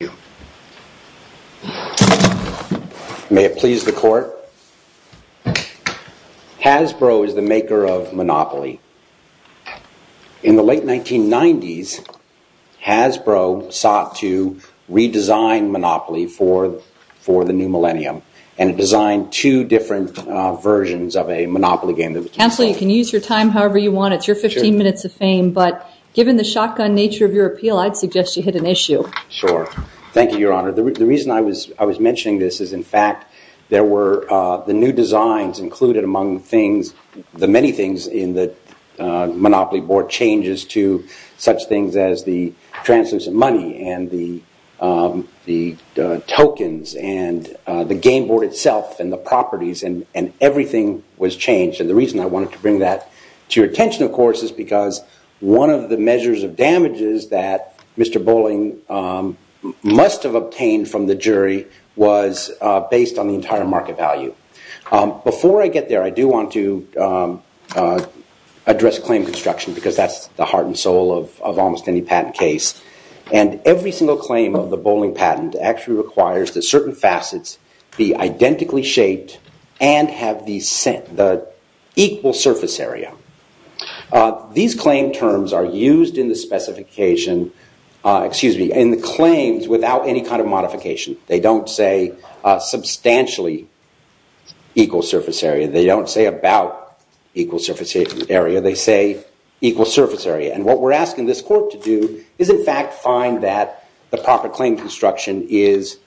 Hasbro is the maker of Monopoly. In the late 1990s, Hasbro sought to redesign Monopoly for the new millennium. And it designed two different versions of a Monopoly game. Counselor, you can use your time however you want. It's your 15 minutes of fame. But given the shotgun nature of your appeal, I'd suggest you hit an issue. Sure. Thank you, Your Honor. The reason I was mentioning this is, in fact, there were the new designs included among things, the many things in the Monopoly board changes to such things as the transfers of money and the tokens and the game board itself and the properties and everything was changed. And the reason I wanted to bring that to your attention, of course, is because one of the measures of damages that Mr. Bowling must have obtained from the jury was based on the entire market value. Before I get there, I do want to address claim construction because that's the heart and soul of almost any patent case. And every single claim of the Bowling patent actually requires that certain facets be identically shaped and have the equal surface area. These claim terms are used in the specification, excuse me, in the claims without any kind of modification. They don't say substantially equal surface area. They don't say about equal surface area. They say equal surface area. And what we're asking this court to do is, in fact, find that the proper claim construction is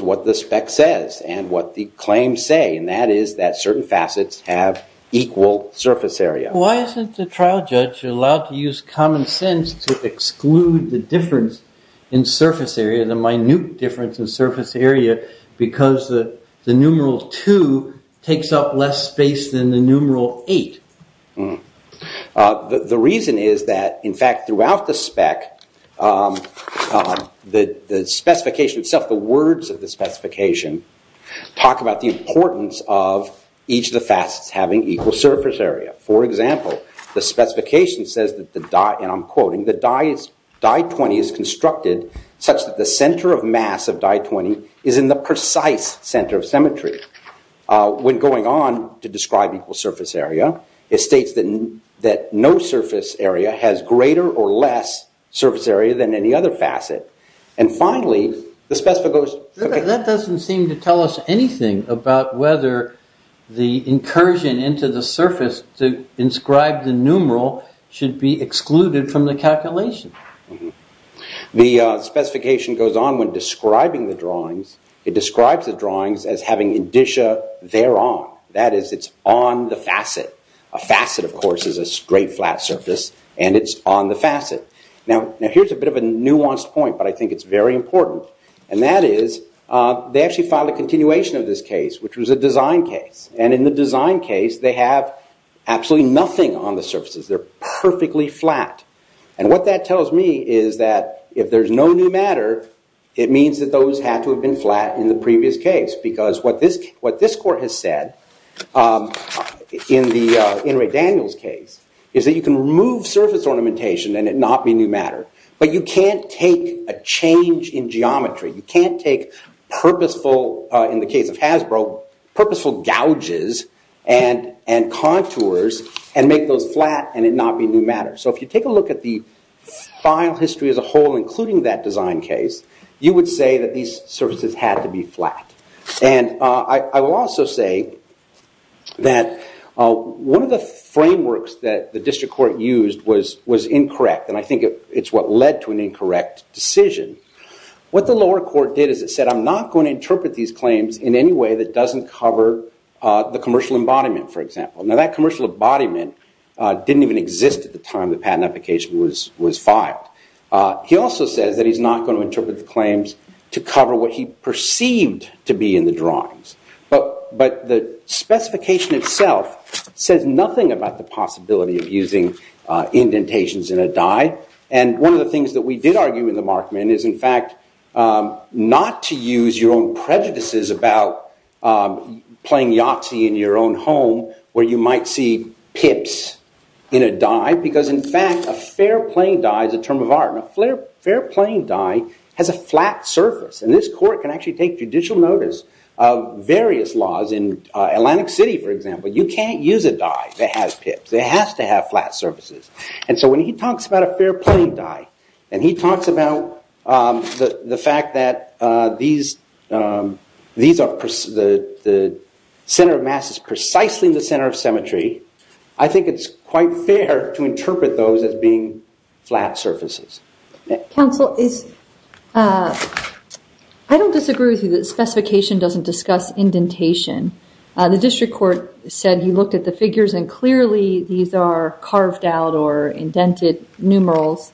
what the spec says and what the claims say, and that is that certain facets have equal surface area. Why isn't the trial judge allowed to use common sense to exclude the difference in surface area, the minute difference in surface area, because the numeral two takes up less space than the numeral eight? The reason is that, in fact, throughout the spec, the specification itself, the words of the specification, talk about the importance of each of the facets having equal surface area. For example, the specification says that, and I'm quoting, that die 20 is constructed such that the center of mass of die 20 is in the precise center of symmetry. When going on to describe equal surface area, it states that no surface area has greater or less surface area than any other facet. That doesn't seem to tell us anything about whether the incursion into the surface to inscribe the numeral should be excluded from the calculation. The specification goes on when describing the drawings. It describes the drawings as having indicia thereon. That is, it's on the facet. A facet, of course, is a straight, flat surface, and it's on the facet. Now, here's a bit of a nuanced point, but I think it's very important, and that is they actually filed a continuation of this case, which was a design case. In the design case, they have absolutely nothing on the surfaces. They're perfectly flat. What that tells me is that if there's no new matter, it means that those had to have been flat in the previous case. What this court has said in Ray Daniels' case is that you can remove surface ornamentation and it not be new matter, but you can't take a change in geometry. You can't take purposeful, in the case of Hasbro, purposeful gouges and contours and make those flat and it not be new matter. If you take a look at the file history as a whole, including that design case, you would say that these surfaces had to be flat. I will also say that one of the frameworks that the district court used was incorrect, and I think it's what led to an incorrect decision. What the lower court did is it said, I'm not going to interpret these claims in any way that doesn't cover the commercial embodiment, for example. Now, that commercial embodiment didn't even exist at the time the patent application was filed. He also says that he's not going to interpret the claims to cover what he perceived to be in the drawings. But the specification itself says nothing about the possibility of using indentations in a die. One of the things that we did argue in the Markman is, in fact, not to use your own prejudices about playing Yahtzee in your own home, where you might see pips in a die, because, in fact, a fair-playing die is a term of art. A fair-playing die has a flat surface, and this court can actually take judicial notice of various laws. In Atlantic City, for example, you can't use a die that has pips. It has to have flat surfaces. And so when he talks about a fair-playing die, and he talks about the fact that the center of mass is precisely the center of symmetry, I think it's quite fair to interpret those as being flat surfaces. Counsel, I don't disagree with you that the specification doesn't discuss indentation. The district court said he looked at the figures, and clearly these are carved out or indented numerals.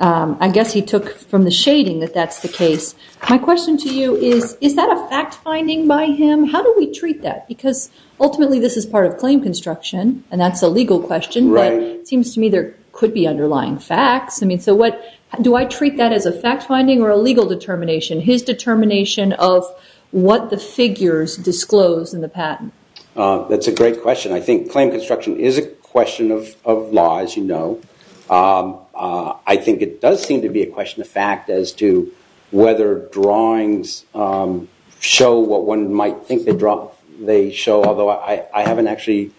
I guess he took from the shading that that's the case. My question to you is, is that a fact-finding by him? How do we treat that? Because, ultimately, this is part of claim construction, and that's a legal question. But it seems to me there could be underlying facts. So do I treat that as a fact-finding or a legal determination? His determination of what the figures disclose in the patent. That's a great question. I think claim construction is a question of law, as you know. I think it does seem to be a question of fact as to whether drawings show what one might think they show, although I haven't actually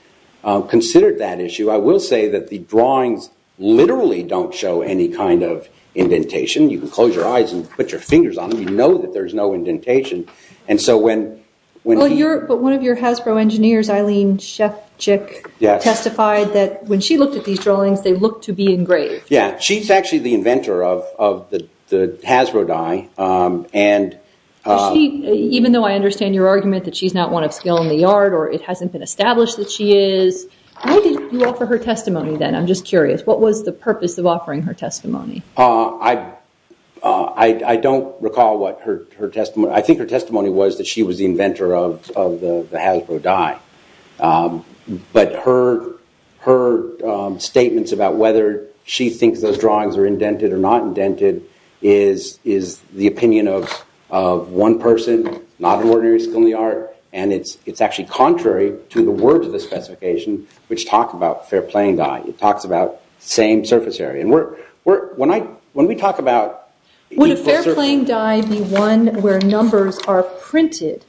considered that issue. I will say that the drawings literally don't show any kind of indentation. You can close your eyes and put your fingers on them. You know that there's no indentation. But one of your Hasbro engineers, Eileen Shefchick, testified that when she looked at these drawings, they looked to be engraved. Yeah. She's actually the inventor of the Hasbro die. Even though I understand your argument that she's not one of skill in the yard or it hasn't been established that she is, why did you offer her testimony then? I'm just curious. What was the purpose of offering her testimony? I don't recall what her testimony. I think her testimony was that she was the inventor of the Hasbro die. But her statements about whether she thinks those drawings are indented or not indented is the opinion of one person, not an ordinary skill in the art. And it's actually contrary to the words of the specification, which talk about fair playing die. It talks about same surface area. When we talk about... Would a fair playing die be one where numbers are printed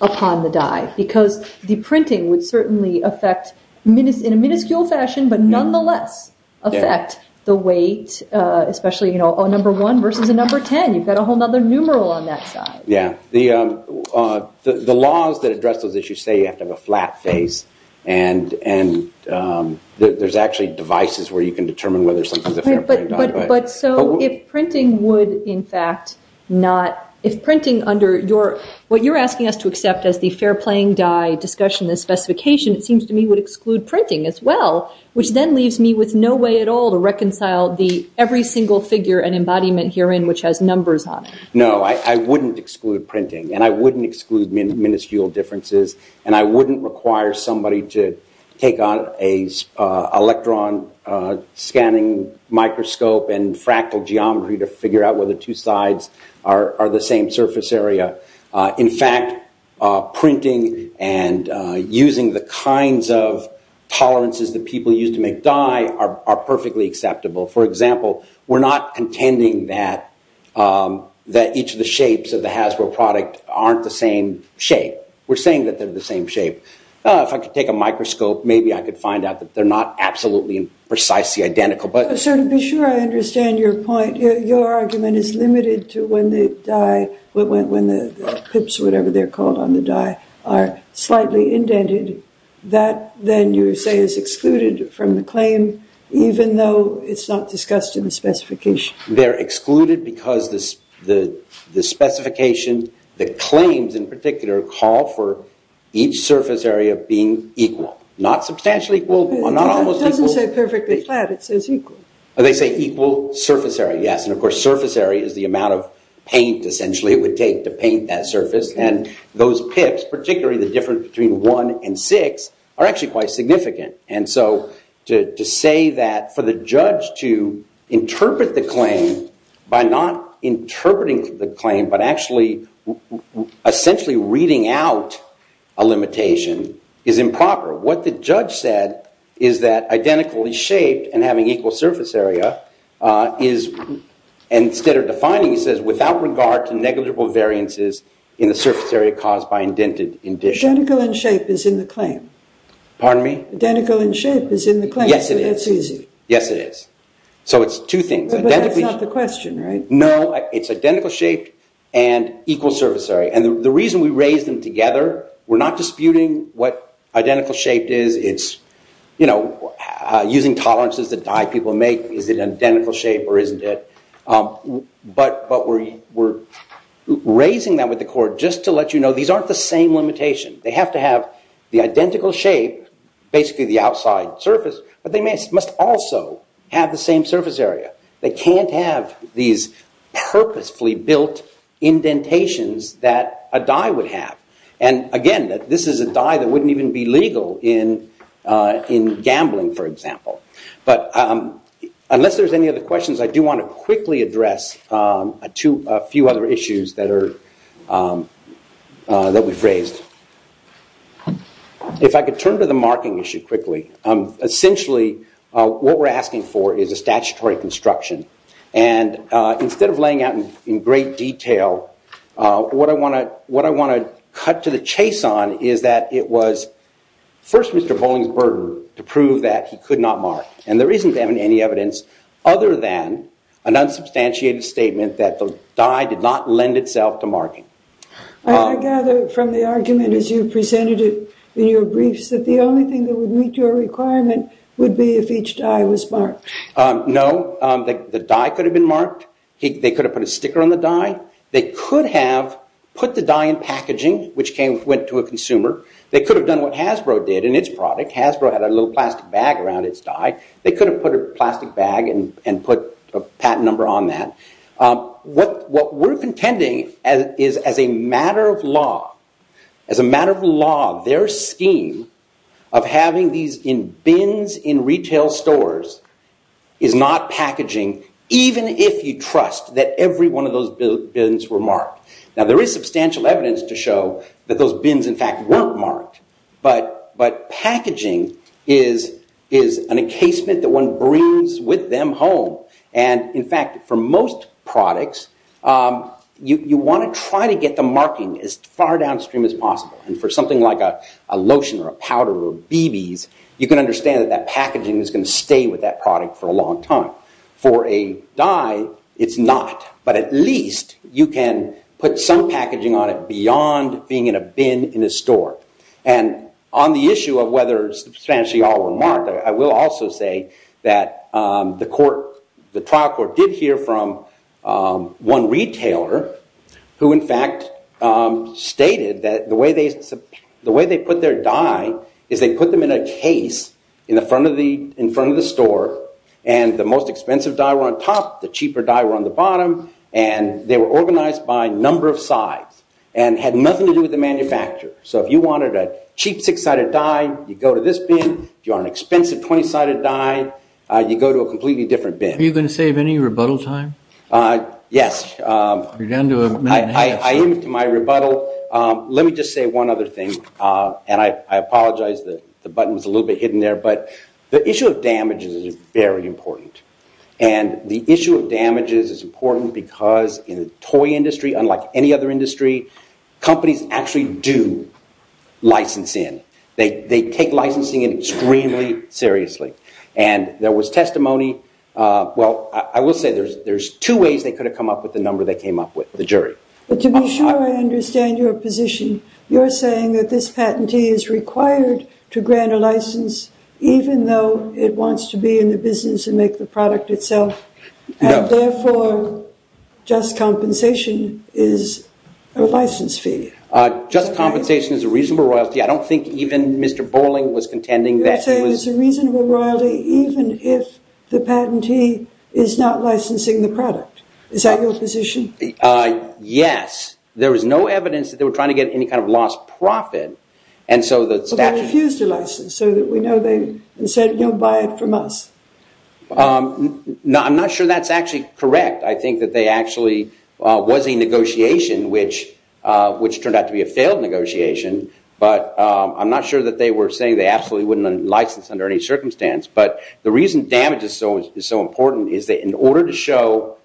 upon the die? Because the printing would certainly affect, in a minuscule fashion, but nonetheless affect the weight, especially a number one versus a number ten. You've got a whole other numeral on that side. Yeah. The laws that address those issues say you have to have a flat face. And there's actually devices where you can determine whether something's a fair playing die. But so if printing would, in fact, not... If printing under your... What you're asking us to accept as the fair playing die discussion, this specification, it seems to me would exclude printing as well, which then leaves me with no way at all to reconcile every single figure and embodiment herein which has numbers on it. No, I wouldn't exclude printing. And I wouldn't exclude minuscule differences. And I wouldn't require somebody to take on an electron scanning microscope and fractal geometry to figure out whether two sides are the same surface area. In fact, printing and using the kinds of tolerances that people use to make die are perfectly acceptable. For example, we're not contending that each of the shapes of the Hasbro product aren't the same shape. We're saying that they're the same shape. If I could take a microscope, maybe I could find out that they're not absolutely and precisely identical. Sir, to be sure I understand your point. Your argument is limited to when the die, when the pips, whatever they're called on the die, are slightly indented. That, then, you say is excluded from the claim, even though it's not discussed in the specification. They're excluded because the specification, the claims in particular, call for each surface area being equal. Not substantially equal, not almost equal. It doesn't say perfectly flat. It says equal. They say equal surface area, yes. And, of course, surface area is the amount of paint, essentially, it would take to paint that surface. And those pips, particularly the difference between one and six, are actually quite significant. And so to say that for the judge to interpret the claim by not interpreting the claim, but actually essentially reading out a limitation is improper. What the judge said is that identically shaped and having equal surface area is, instead of defining, he says without regard to negligible variances in the surface area caused by indented addition. Identical in shape is in the claim. Pardon me? Identical in shape is in the claim. Yes, it is. So that's easy. Yes, it is. So it's two things. But that's not the question, right? No, it's identical shape and equal surface area. And the reason we raise them together, we're not disputing what identical shape is. It's, you know, using tolerances that die people make. Is it an identical shape or isn't it? But we're raising that with the court just to let you know these aren't the same limitation. They have to have the identical shape, basically the outside surface, but they must also have the same surface area. They can't have these purposefully built indentations that a die would have. And, again, this is a die that wouldn't even be legal in gambling, for example. But unless there's any other questions, I do want to quickly address a few other issues that we've raised. If I could turn to the marking issue quickly. Essentially, what we're asking for is a statutory construction. And instead of laying out in great detail, what I want to cut to the chase on is that it was first Mr. Bowling's murder to prove that he could not mark. And there isn't any evidence other than an unsubstantiated statement that the die did not lend itself to marking. I gather from the argument as you presented it in your briefs that the only thing that would meet your requirement would be if each die was marked. No, the die could have been marked. They could have put a sticker on the die. They could have put the die in packaging, which went to a consumer. They could have done what Hasbro did in its product. Hasbro had a little plastic bag around its die. They could have put a plastic bag and put a patent number on that. What we're contending is as a matter of law, their scheme of having these in bins in retail stores is not packaging, even if you trust that every one of those bins were marked. Now, there is substantial evidence to show that those bins, in fact, weren't marked. But packaging is an encasement that one brings with them home. And, in fact, for most products, you want to try to get the marking as far downstream as possible. And for something like a lotion or a powder or BBs, you can understand that that packaging is going to stay with that product for a long time. For a die, it's not. But at least you can put some packaging on it beyond being in a bin in a store. And on the issue of whether substantially all were marked, I will also say that the trial court did hear from one retailer who, in fact, stated that the way they put their die is they put them in a case in front of the store. And the most expensive die were on top. The cheaper die were on the bottom. And they were organized by number of sides and had nothing to do with the manufacturer. So if you wanted a cheap six-sided die, you go to this bin. If you want an expensive 20-sided die, you go to a completely different bin. Are you going to save any rebuttal time? Yes. You're down to a minute and a half. I am to my rebuttal. Let me just say one other thing. And I apologize. The button was a little bit hidden there. But the issue of damages is very important. And the issue of damages is important because in the toy industry, unlike any other industry, companies actually do license in. They take licensing extremely seriously. And there was testimony. Well, I will say there's two ways they could have come up with the number they came up with, the jury. But to be sure I understand your position, you're saying that this patentee is required to grant a license even though it wants to be in the business and make the product itself. And therefore, just compensation is a license fee. Just compensation is a reasonable royalty. I don't think even Mr. Bolling was contending that. You're saying it's a reasonable royalty even if the patentee is not licensing the product. Is that your position? Yes. There was no evidence that they were trying to get any kind of lost profit. And so the statute… But they refused a license so that we know they said, you know, buy it from us. I'm not sure that's actually correct. I think that there actually was a negotiation, which turned out to be a failed negotiation. But I'm not sure that they were saying they absolutely wouldn't license under any circumstance. But the reason damage is so important is that in order to show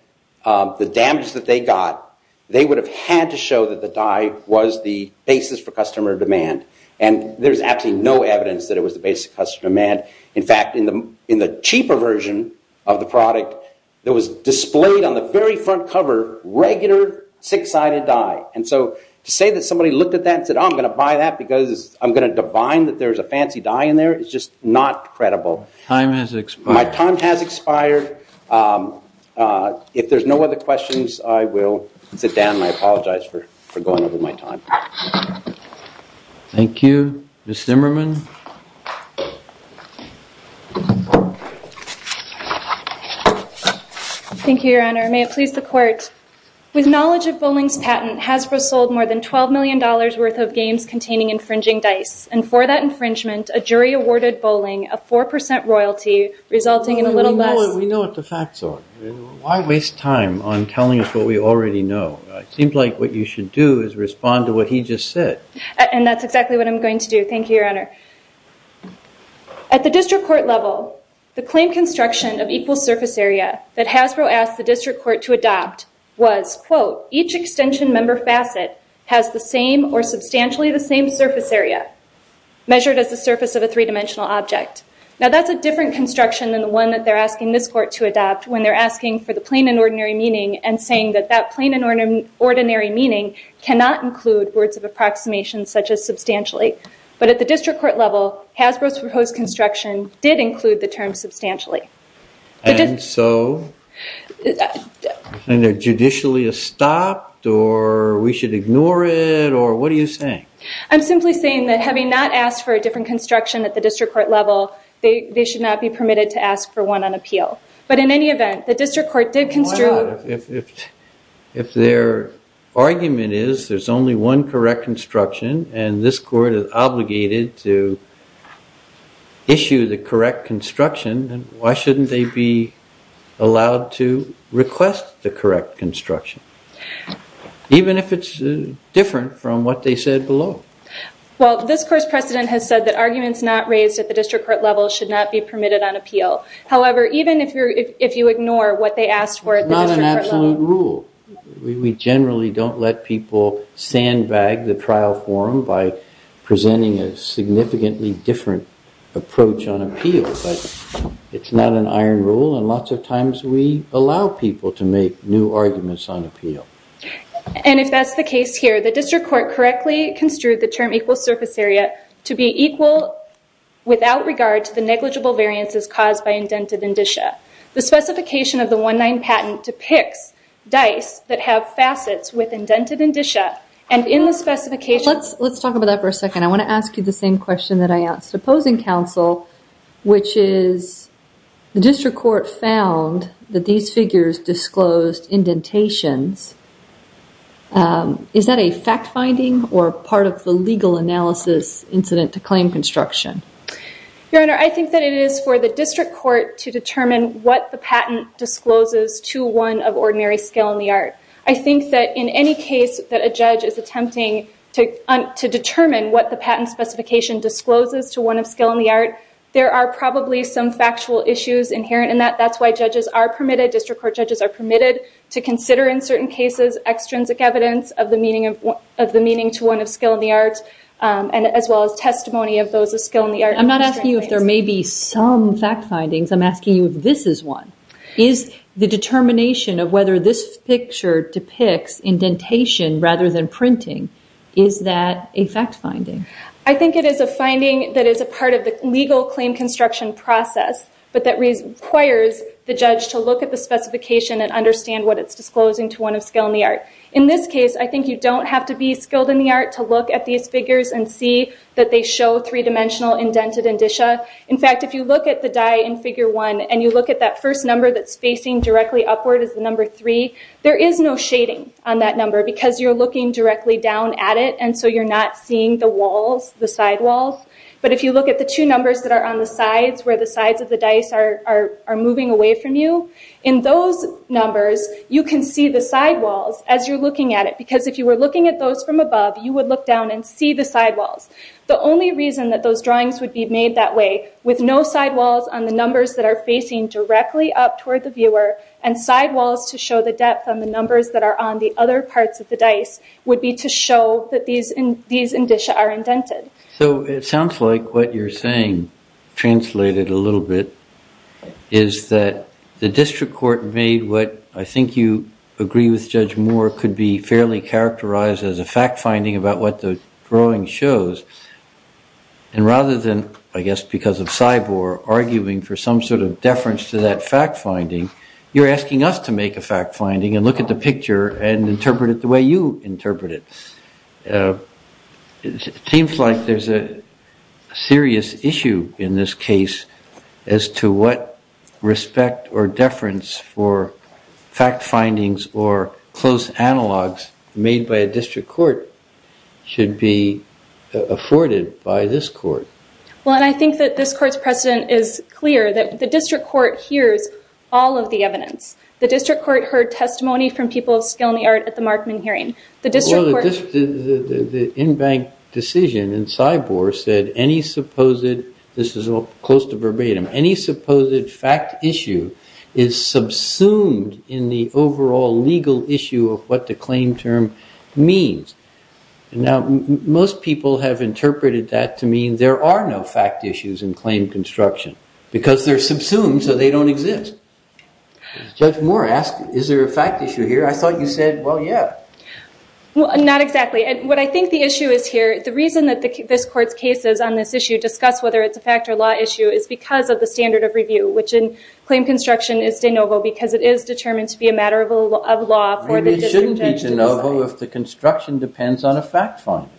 the damage that they got, they would have had to show that the dye was the basis for customer demand. And there's absolutely no evidence that it was the basis of customer demand. In fact, in the cheaper version of the product, there was displayed on the very front cover regular six-sided dye. And so to say that somebody looked at that and said, oh, I'm going to buy that because I'm going to divine that there's a fancy dye in there is just not credible. Time has expired. My time has expired. If there's no other questions, I will sit down and I apologize for going over my time. Thank you. Ms. Zimmerman. Thank you, Your Honor. May it please the Court. With knowledge of bowling's patent, Hasbro sold more than $12 million worth of games containing infringing dice. And for that infringement, a jury awarded bowling a 4% royalty, resulting in a little less. We know what the facts are. Why waste time on telling us what we already know? It seems like what you should do is respond to what he just said. And that's exactly what I'm going to do. Thank you, Your Honor. At the district court level, the claim construction of equal surface area that Hasbro asked the district court to adopt was, quote, each extension member facet has the same or substantially the same surface area measured as the surface of a three-dimensional object. Now, that's a different construction than the one that they're asking this court to adopt when they're asking for the plain and ordinary meaning and saying that that plain and ordinary meaning cannot include words of approximation such as substantially. But at the district court level, Hasbro's proposed construction did include the term substantially. And so? And they're judicially stopped or we should ignore it or what are you saying? I'm simply saying that having not asked for a different construction at the district court level, they should not be permitted to ask for one on appeal. But in any event, the district court did construe... If their argument is there's only one correct construction and this court is obligated to issue the correct construction, then why shouldn't they be allowed to request the correct construction, even if it's different from what they said below? Well, this court's precedent has said that arguments not raised at the district court level should not be permitted on appeal. However, even if you ignore what they asked for at the district court level... It's not an absolute rule. We generally don't let people sandbag the trial forum by presenting a significantly different approach on appeal. But it's not an iron rule and lots of times we allow people to make new arguments on appeal. And if that's the case here, the district court correctly construed the term equal surface area to be equal without regard to the negligible variances caused by indented indicia. The specification of the 1-9 patent depicts dice that have facets with indented indicia and in the specification... Let's talk about that for a second. I want to ask you the same question that I asked opposing counsel, which is the district court found that these figures disclosed indentations. Is that a fact finding or part of the legal analysis incident to claim construction? Your Honor, I think that it is for the district court to determine what the patent discloses to one of ordinary skill in the art. I think that in any case that a judge is attempting to determine what the patent specification discloses to one of skill in the art, there are probably some factual issues inherent in that. That's why judges are permitted, district court judges are permitted, to consider in certain cases extrinsic evidence of the meaning to one of skill in the art as well as testimony of those of skill in the art. I'm not asking you if there may be some fact findings, I'm asking you if this is one. Is the determination of whether this picture depicts indentation rather than printing, is that a fact finding? I think it is a finding that is a part of the legal claim construction process, but that requires the judge to look at the specification and understand what it's disclosing to one of skill in the art. In this case, I think you don't have to be skilled in the art to look at these figures and see that they show three-dimensional indented indicia. In fact, if you look at the die in figure one and you look at that first number that's facing directly upward as the number three, there is no shading on that number because you're looking directly down at it and so you're not seeing the walls, the side walls. But if you look at the two numbers that are on the sides where the sides of the dice are moving away from you, in those numbers you can see the side walls as you're looking at it because if you were looking at those from above, you would look down and see the side walls. The only reason that those drawings would be made that way with no side walls on the numbers that are facing directly up toward the viewer and side walls to show the depth on the numbers that are on the other parts of the dice would be to show that these indicia are indented. So it sounds like what you're saying translated a little bit is that the district court made what I think you agree with Judge Moore could be fairly characterized as a fact-finding about what the drawing shows. And rather than, I guess because of cyborg, arguing for some sort of deference to that fact-finding, you're asking us to make a fact-finding and look at the picture and interpret it the way you interpret it. It seems like there's a serious issue in this case as to what respect or deference for fact-findings or close analogs made by a district court should be afforded by this court. Well, and I think that this court's precedent is clear that the district court hears all of the evidence. The district court heard testimony from people of skill in the art at the Markman hearing. The in-bank decision in cyborg said any supposed, this is all close to verbatim, any supposed fact issue is subsumed in the overall legal issue of what the claim term means. Now, most people have interpreted that to mean there are no fact issues in claim construction because they're subsumed so they don't exist. Judge Moore asked, is there a fact issue here? I thought you said, well, yeah. Not exactly. What I think the issue is here, the reason that this court's cases on this issue discuss whether it's a fact or law issue is because of the standard of review, which in claim construction is de novo because it is determined to be a matter of law for the district judge to decide. Maybe it shouldn't be de novo if the construction depends on a fact finding.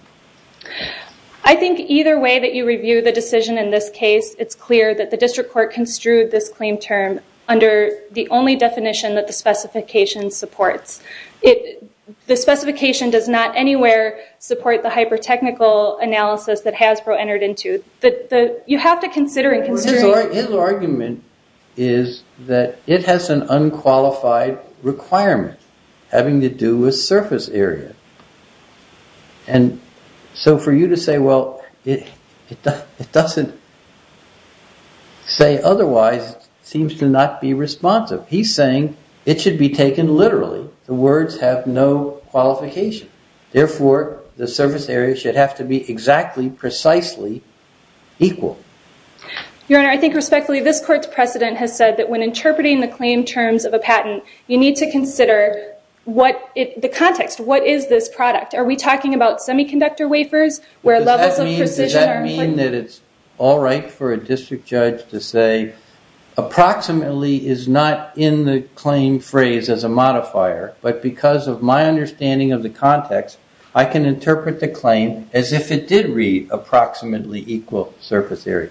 I think either way that you review the decision in this case, it's clear that the district court construed this claim term under the only definition that the specification supports. The specification does not anywhere support the hyper-technical analysis that Hasbro entered into. You have to consider it. His argument is that it has an unqualified requirement having to do with surface area. And so for you to say, well, it doesn't say otherwise seems to not be responsive. He's saying it should be taken literally. The words have no qualification. Therefore, the surface area should have to be exactly, precisely equal. Your Honor, I think respectfully this court's precedent has said that when interpreting the claim terms of a patent, you need to consider the context. What is this product? Are we talking about semiconductor wafers? Does that mean that it's all right for a district judge to say, approximately is not in the claim phrase as a modifier, but because of my understanding of the context, I can interpret the claim as if it did read approximately equal surface area.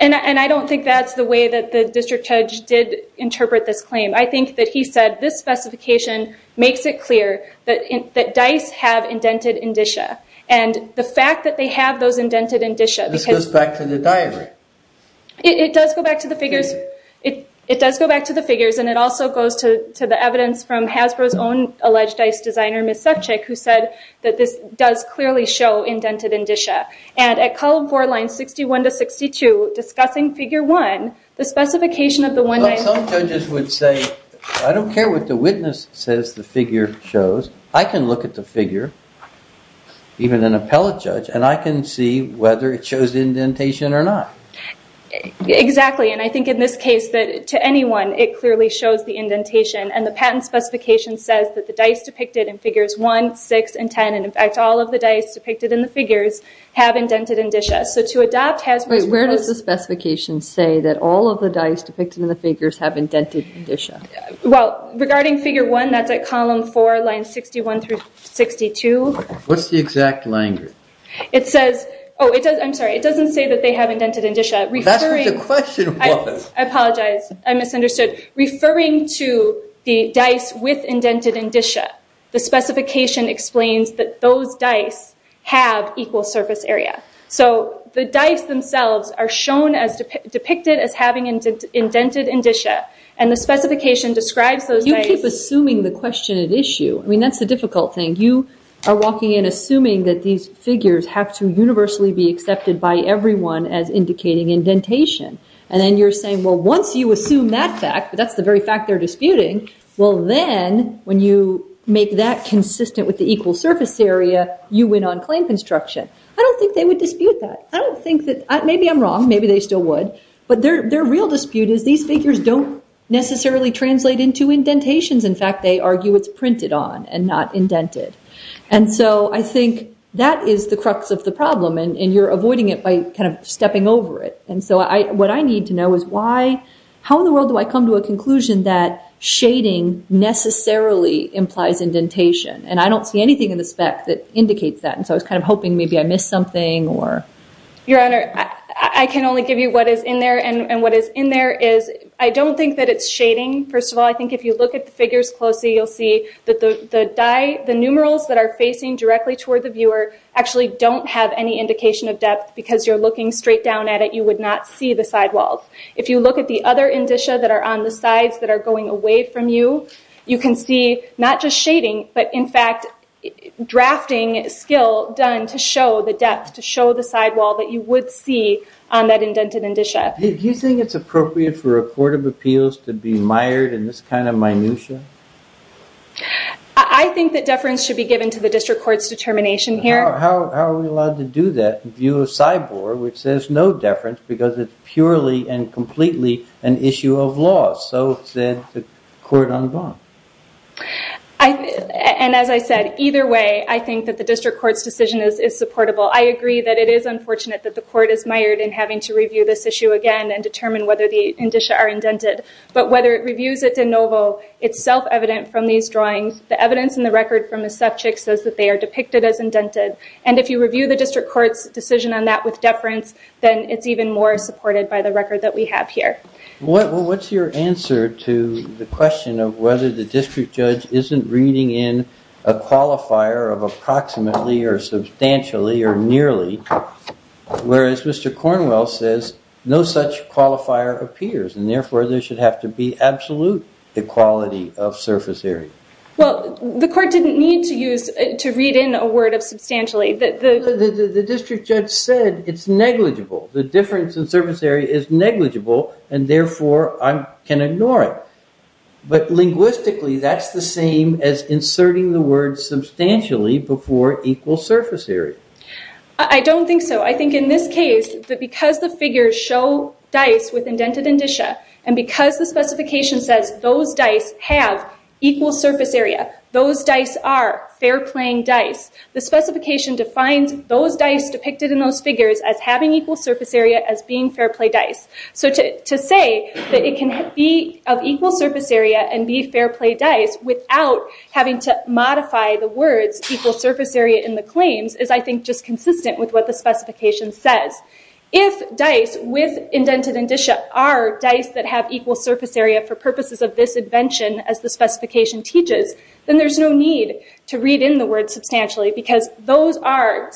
And I don't think that's the way that the district judge did interpret this claim. I think that he said this specification makes it clear that dice have indented indicia. And the fact that they have those indented indicia because- This goes back to the diagram. It does go back to the figures. It does go back to the figures, and it also goes to the evidence from Hasbro's own alleged dice designer, Ms. Subchick, who said that this does clearly show indented indicia. And at column four, lines 61 to 62, discussing figure one, the specification of the one- Some judges would say, I don't care what the witness says the figure shows. I can look at the figure, even an appellate judge, and I can see whether it shows indentation or not. Exactly, and I think in this case that to anyone it clearly shows the indentation, and the patent specification says that the dice depicted in figures one, six, and ten, and in fact all of the dice depicted in the figures, have indented indicia. So to adopt Hasbro's- Where does the specification say that all of the dice depicted in the figures have indented indicia? Well, regarding figure one, that's at column four, lines 61 through 62. What's the exact language? It says- Oh, I'm sorry. It doesn't say that they have indented indicia. That's what the question was. I apologize. I misunderstood. Referring to the dice with indented indicia, the specification explains that those dice have equal surface area. So the dice themselves are shown as depicted as having indented indicia, and the specification describes those dice- You keep assuming the question at issue. I mean, that's the difficult thing. You are walking in assuming that these figures have to universally be accepted by everyone as indicating indentation, and then you're saying, well, once you assume that fact, that's the very fact they're disputing, well then, when you make that consistent with the equal surface area, you win on claim construction. I don't think they would dispute that. I don't think that- Maybe I'm wrong. Maybe they still would. But their real dispute is these figures don't necessarily translate into indentations. In fact, they argue it's printed on and not indented. And so I think that is the crux of the problem, and you're avoiding it by kind of stepping over it. And so what I need to know is how in the world do I come to a conclusion that shading necessarily implies indentation? And I don't see anything in the spec that indicates that, and so I was kind of hoping maybe I missed something or- Your Honor, I can only give you what is in there, and what is in there is I don't think that it's shading. First of all, I think if you look at the figures closely, you'll see that the numerals that are facing directly toward the viewer actually don't have any indication of depth because you're looking straight down at it. You would not see the sidewalls. If you look at the other indicia that are on the sides that are going away from you, you can see not just shading, but in fact drafting skill done to show the depth, to show the sidewall that you would see on that indented indicia. Do you think it's appropriate for a court of appeals to be mired in this kind of minutia? I think that deference should be given to the district court's determination here. How are we allowed to do that in view of CYBOR, which says no deference because it's purely and completely an issue of law. So is the court on bond? As I said, either way, I think that the district court's decision is supportable. I agree that it is unfortunate that the court is mired in having to review this issue again and determine whether the indicia are indented, but whether it reviews it de novo, it's self-evident from these drawings. The evidence in the record from the subject says that they are depicted as indented, and if you review the district court's decision on that with deference, then it's even more supported by the record that we have here. What's your answer to the question of whether the district judge isn't reading in a qualifier of approximately or substantially or nearly, whereas Mr. Cornwell says no such qualifier appears and therefore there should have to be absolute equality of surface area? Well, the court didn't need to read in a word of substantially. The district judge said it's negligible. The difference in surface area is negligible, and therefore I can ignore it. But linguistically, that's the same as inserting the word substantially before equal surface area. I don't think so. I think in this case that because the figures show dice with indented indicia and because the specification says those dice have equal surface area, those dice are fair-playing dice, the specification defines those dice depicted in those figures as having equal surface area as being fair-play dice. So to say that it can be of equal surface area and be fair-play dice without having to modify the words equal surface area in the claims is I think just consistent with what the specification says. If dice with indented indicia are dice that have equal surface area for purposes of this invention, as the specification teaches, then there's no need to read in the word substantially because those are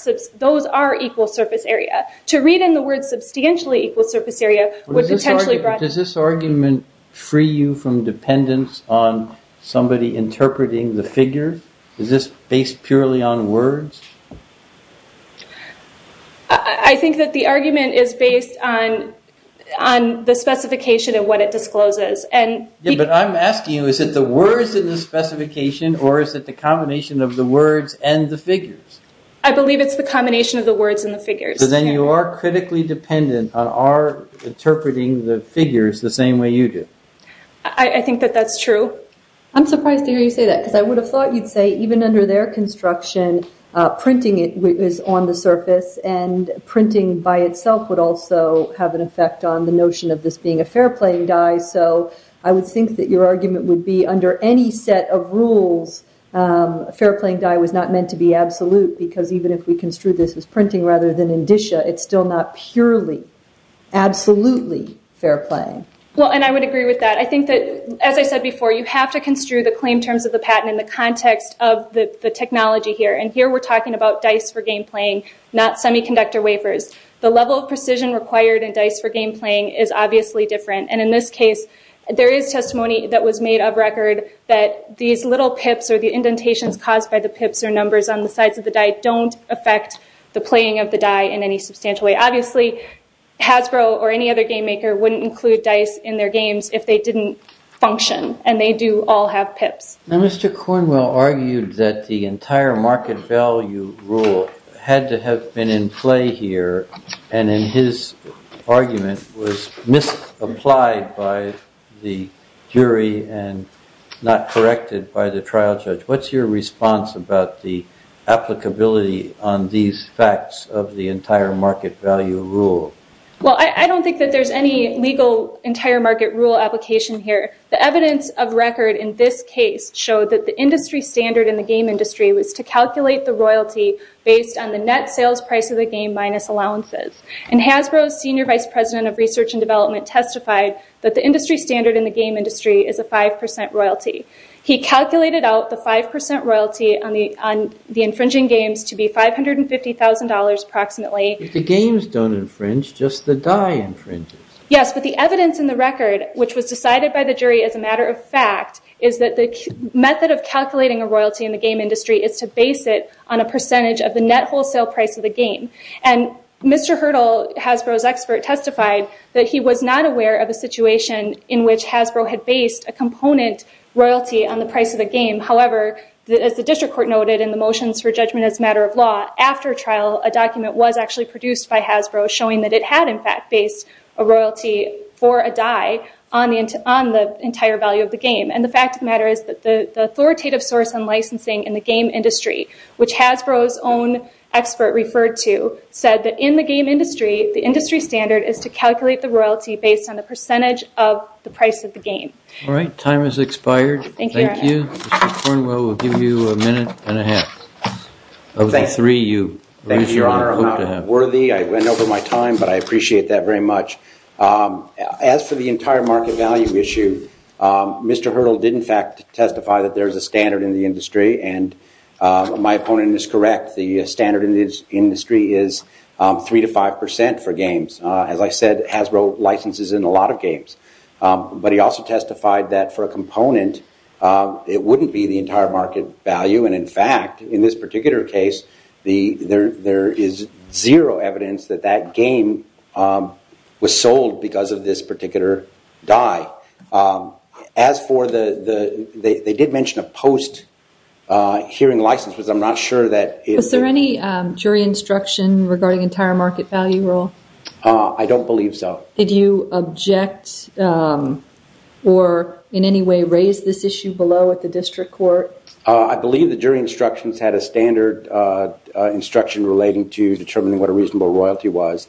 equal surface area. To read in the word substantially equal surface area would potentially- Does this argument free you from dependence on somebody interpreting the figures? Is this based purely on words? I think that the argument is based on the specification and what it discloses. But I'm asking you, is it the words in the specification or is it the combination of the words and the figures? I believe it's the combination of the words and the figures. So then you are critically dependent on our interpreting the figures the same way you do. I think that that's true. I'm surprised to hear you say that because I would have thought you'd say even under their construction, printing is on the surface and printing by itself would also have an effect on the notion of this being a fair-playing dice so I would think that your argument would be under any set of rules, a fair-playing die was not meant to be absolute because even if we construe this as printing rather than indicia, it's still not purely, absolutely fair-playing. Well, and I would agree with that. I think that, as I said before, you have to construe the claim terms of the patent in the context of the technology here. And here we're talking about dice for game playing, not semiconductor wafers. The level of precision required in dice for game playing is obviously different and in this case there is testimony that was made of record that these little pips or the indentations caused by the pips or numbers on the sides of the die don't affect the playing of the die in any substantial way. Obviously Hasbro or any other game maker wouldn't include dice in their games if they didn't function and they do all have pips. Now Mr. Cornwell argued that the entire market value rule had to have been in play here and in his argument was misapplied by the jury and not corrected by the trial judge. What's your response about the applicability on these facts of the entire market value rule? Well, I don't think that there's any legal entire market rule application here. The evidence of record in this case showed that the industry standard in the game industry was to calculate the royalty based on the net sales price of the game minus allowances. And Hasbro's Senior Vice President of Research and Development testified that the industry standard in the game industry is a 5% royalty. He calculated out the 5% royalty on the infringing games to be $550,000 approximately. If the games don't infringe, just the die infringes. Yes, but the evidence in the record, which was decided by the jury as a matter of fact, is that the method of calculating a royalty in the game industry is to base it on a percentage of the net wholesale price of the game. And Mr. Hurdle, Hasbro's expert, testified that he was not aware of a situation in which Hasbro had based a component royalty on the price of the game. However, as the district court noted in the motions for judgment as a matter of law, after trial a document was actually produced by Hasbro showing that it had in fact based a royalty for a die on the entire value of the game. And the fact of the matter is that the authoritative source on licensing in the game industry, which Hasbro's own expert referred to, said that in the game industry, the industry standard is to calculate the royalty based on the percentage of the price of the game. All right, time has expired. Thank you. Mr. Cornwell, we'll give you a minute and a half. Of the three you used your own vote to have. Worthy. I went over my time, but I appreciate that very much. As for the entire market value issue, Mr. Hurdle did in fact testify that there is a standard in the industry. And my opponent is correct. The standard in this industry is three to five percent for games. As I said, Hasbro licenses in a lot of games. But he also testified that for a component, it wouldn't be the entire market value. And in fact, in this particular case, there is zero evidence that that game was sold because of this particular die. As for the they did mention a post hearing license, because I'm not sure that. Is there any jury instruction regarding entire market value rule? I don't believe so. Did you object or in any way raise this issue below at the district court? I believe the jury instructions had a standard instruction relating to determining what a reasonable royalty was.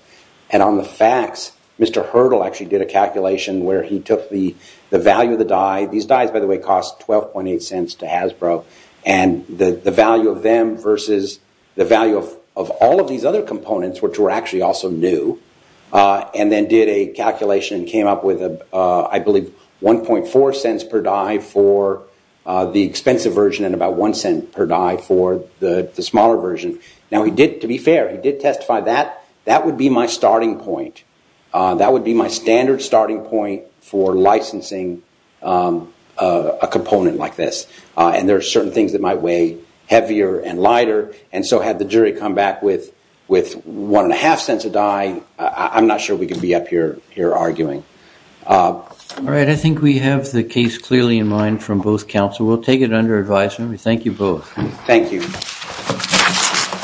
And on the facts, Mr. Hurdle actually did a calculation where he took the value of the die. These dies, by the way, cost twelve point eight cents to Hasbro. And the value of them versus the value of all of these other components, which were actually also new, and then did a calculation and came up with, I believe, one point four cents per die for the expensive version and about one cent per die for the smaller version. Now, he did, to be fair, he did testify that that would be my starting point. That would be my standard starting point for licensing a component like this. And there are certain things that might weigh heavier and lighter. And so had the jury come back with with one and a half cents a die. I'm not sure we could be up here here arguing. All right. I think we have the case clearly in mind from both counsel. We'll take it under advisement. We thank you both. Thank you.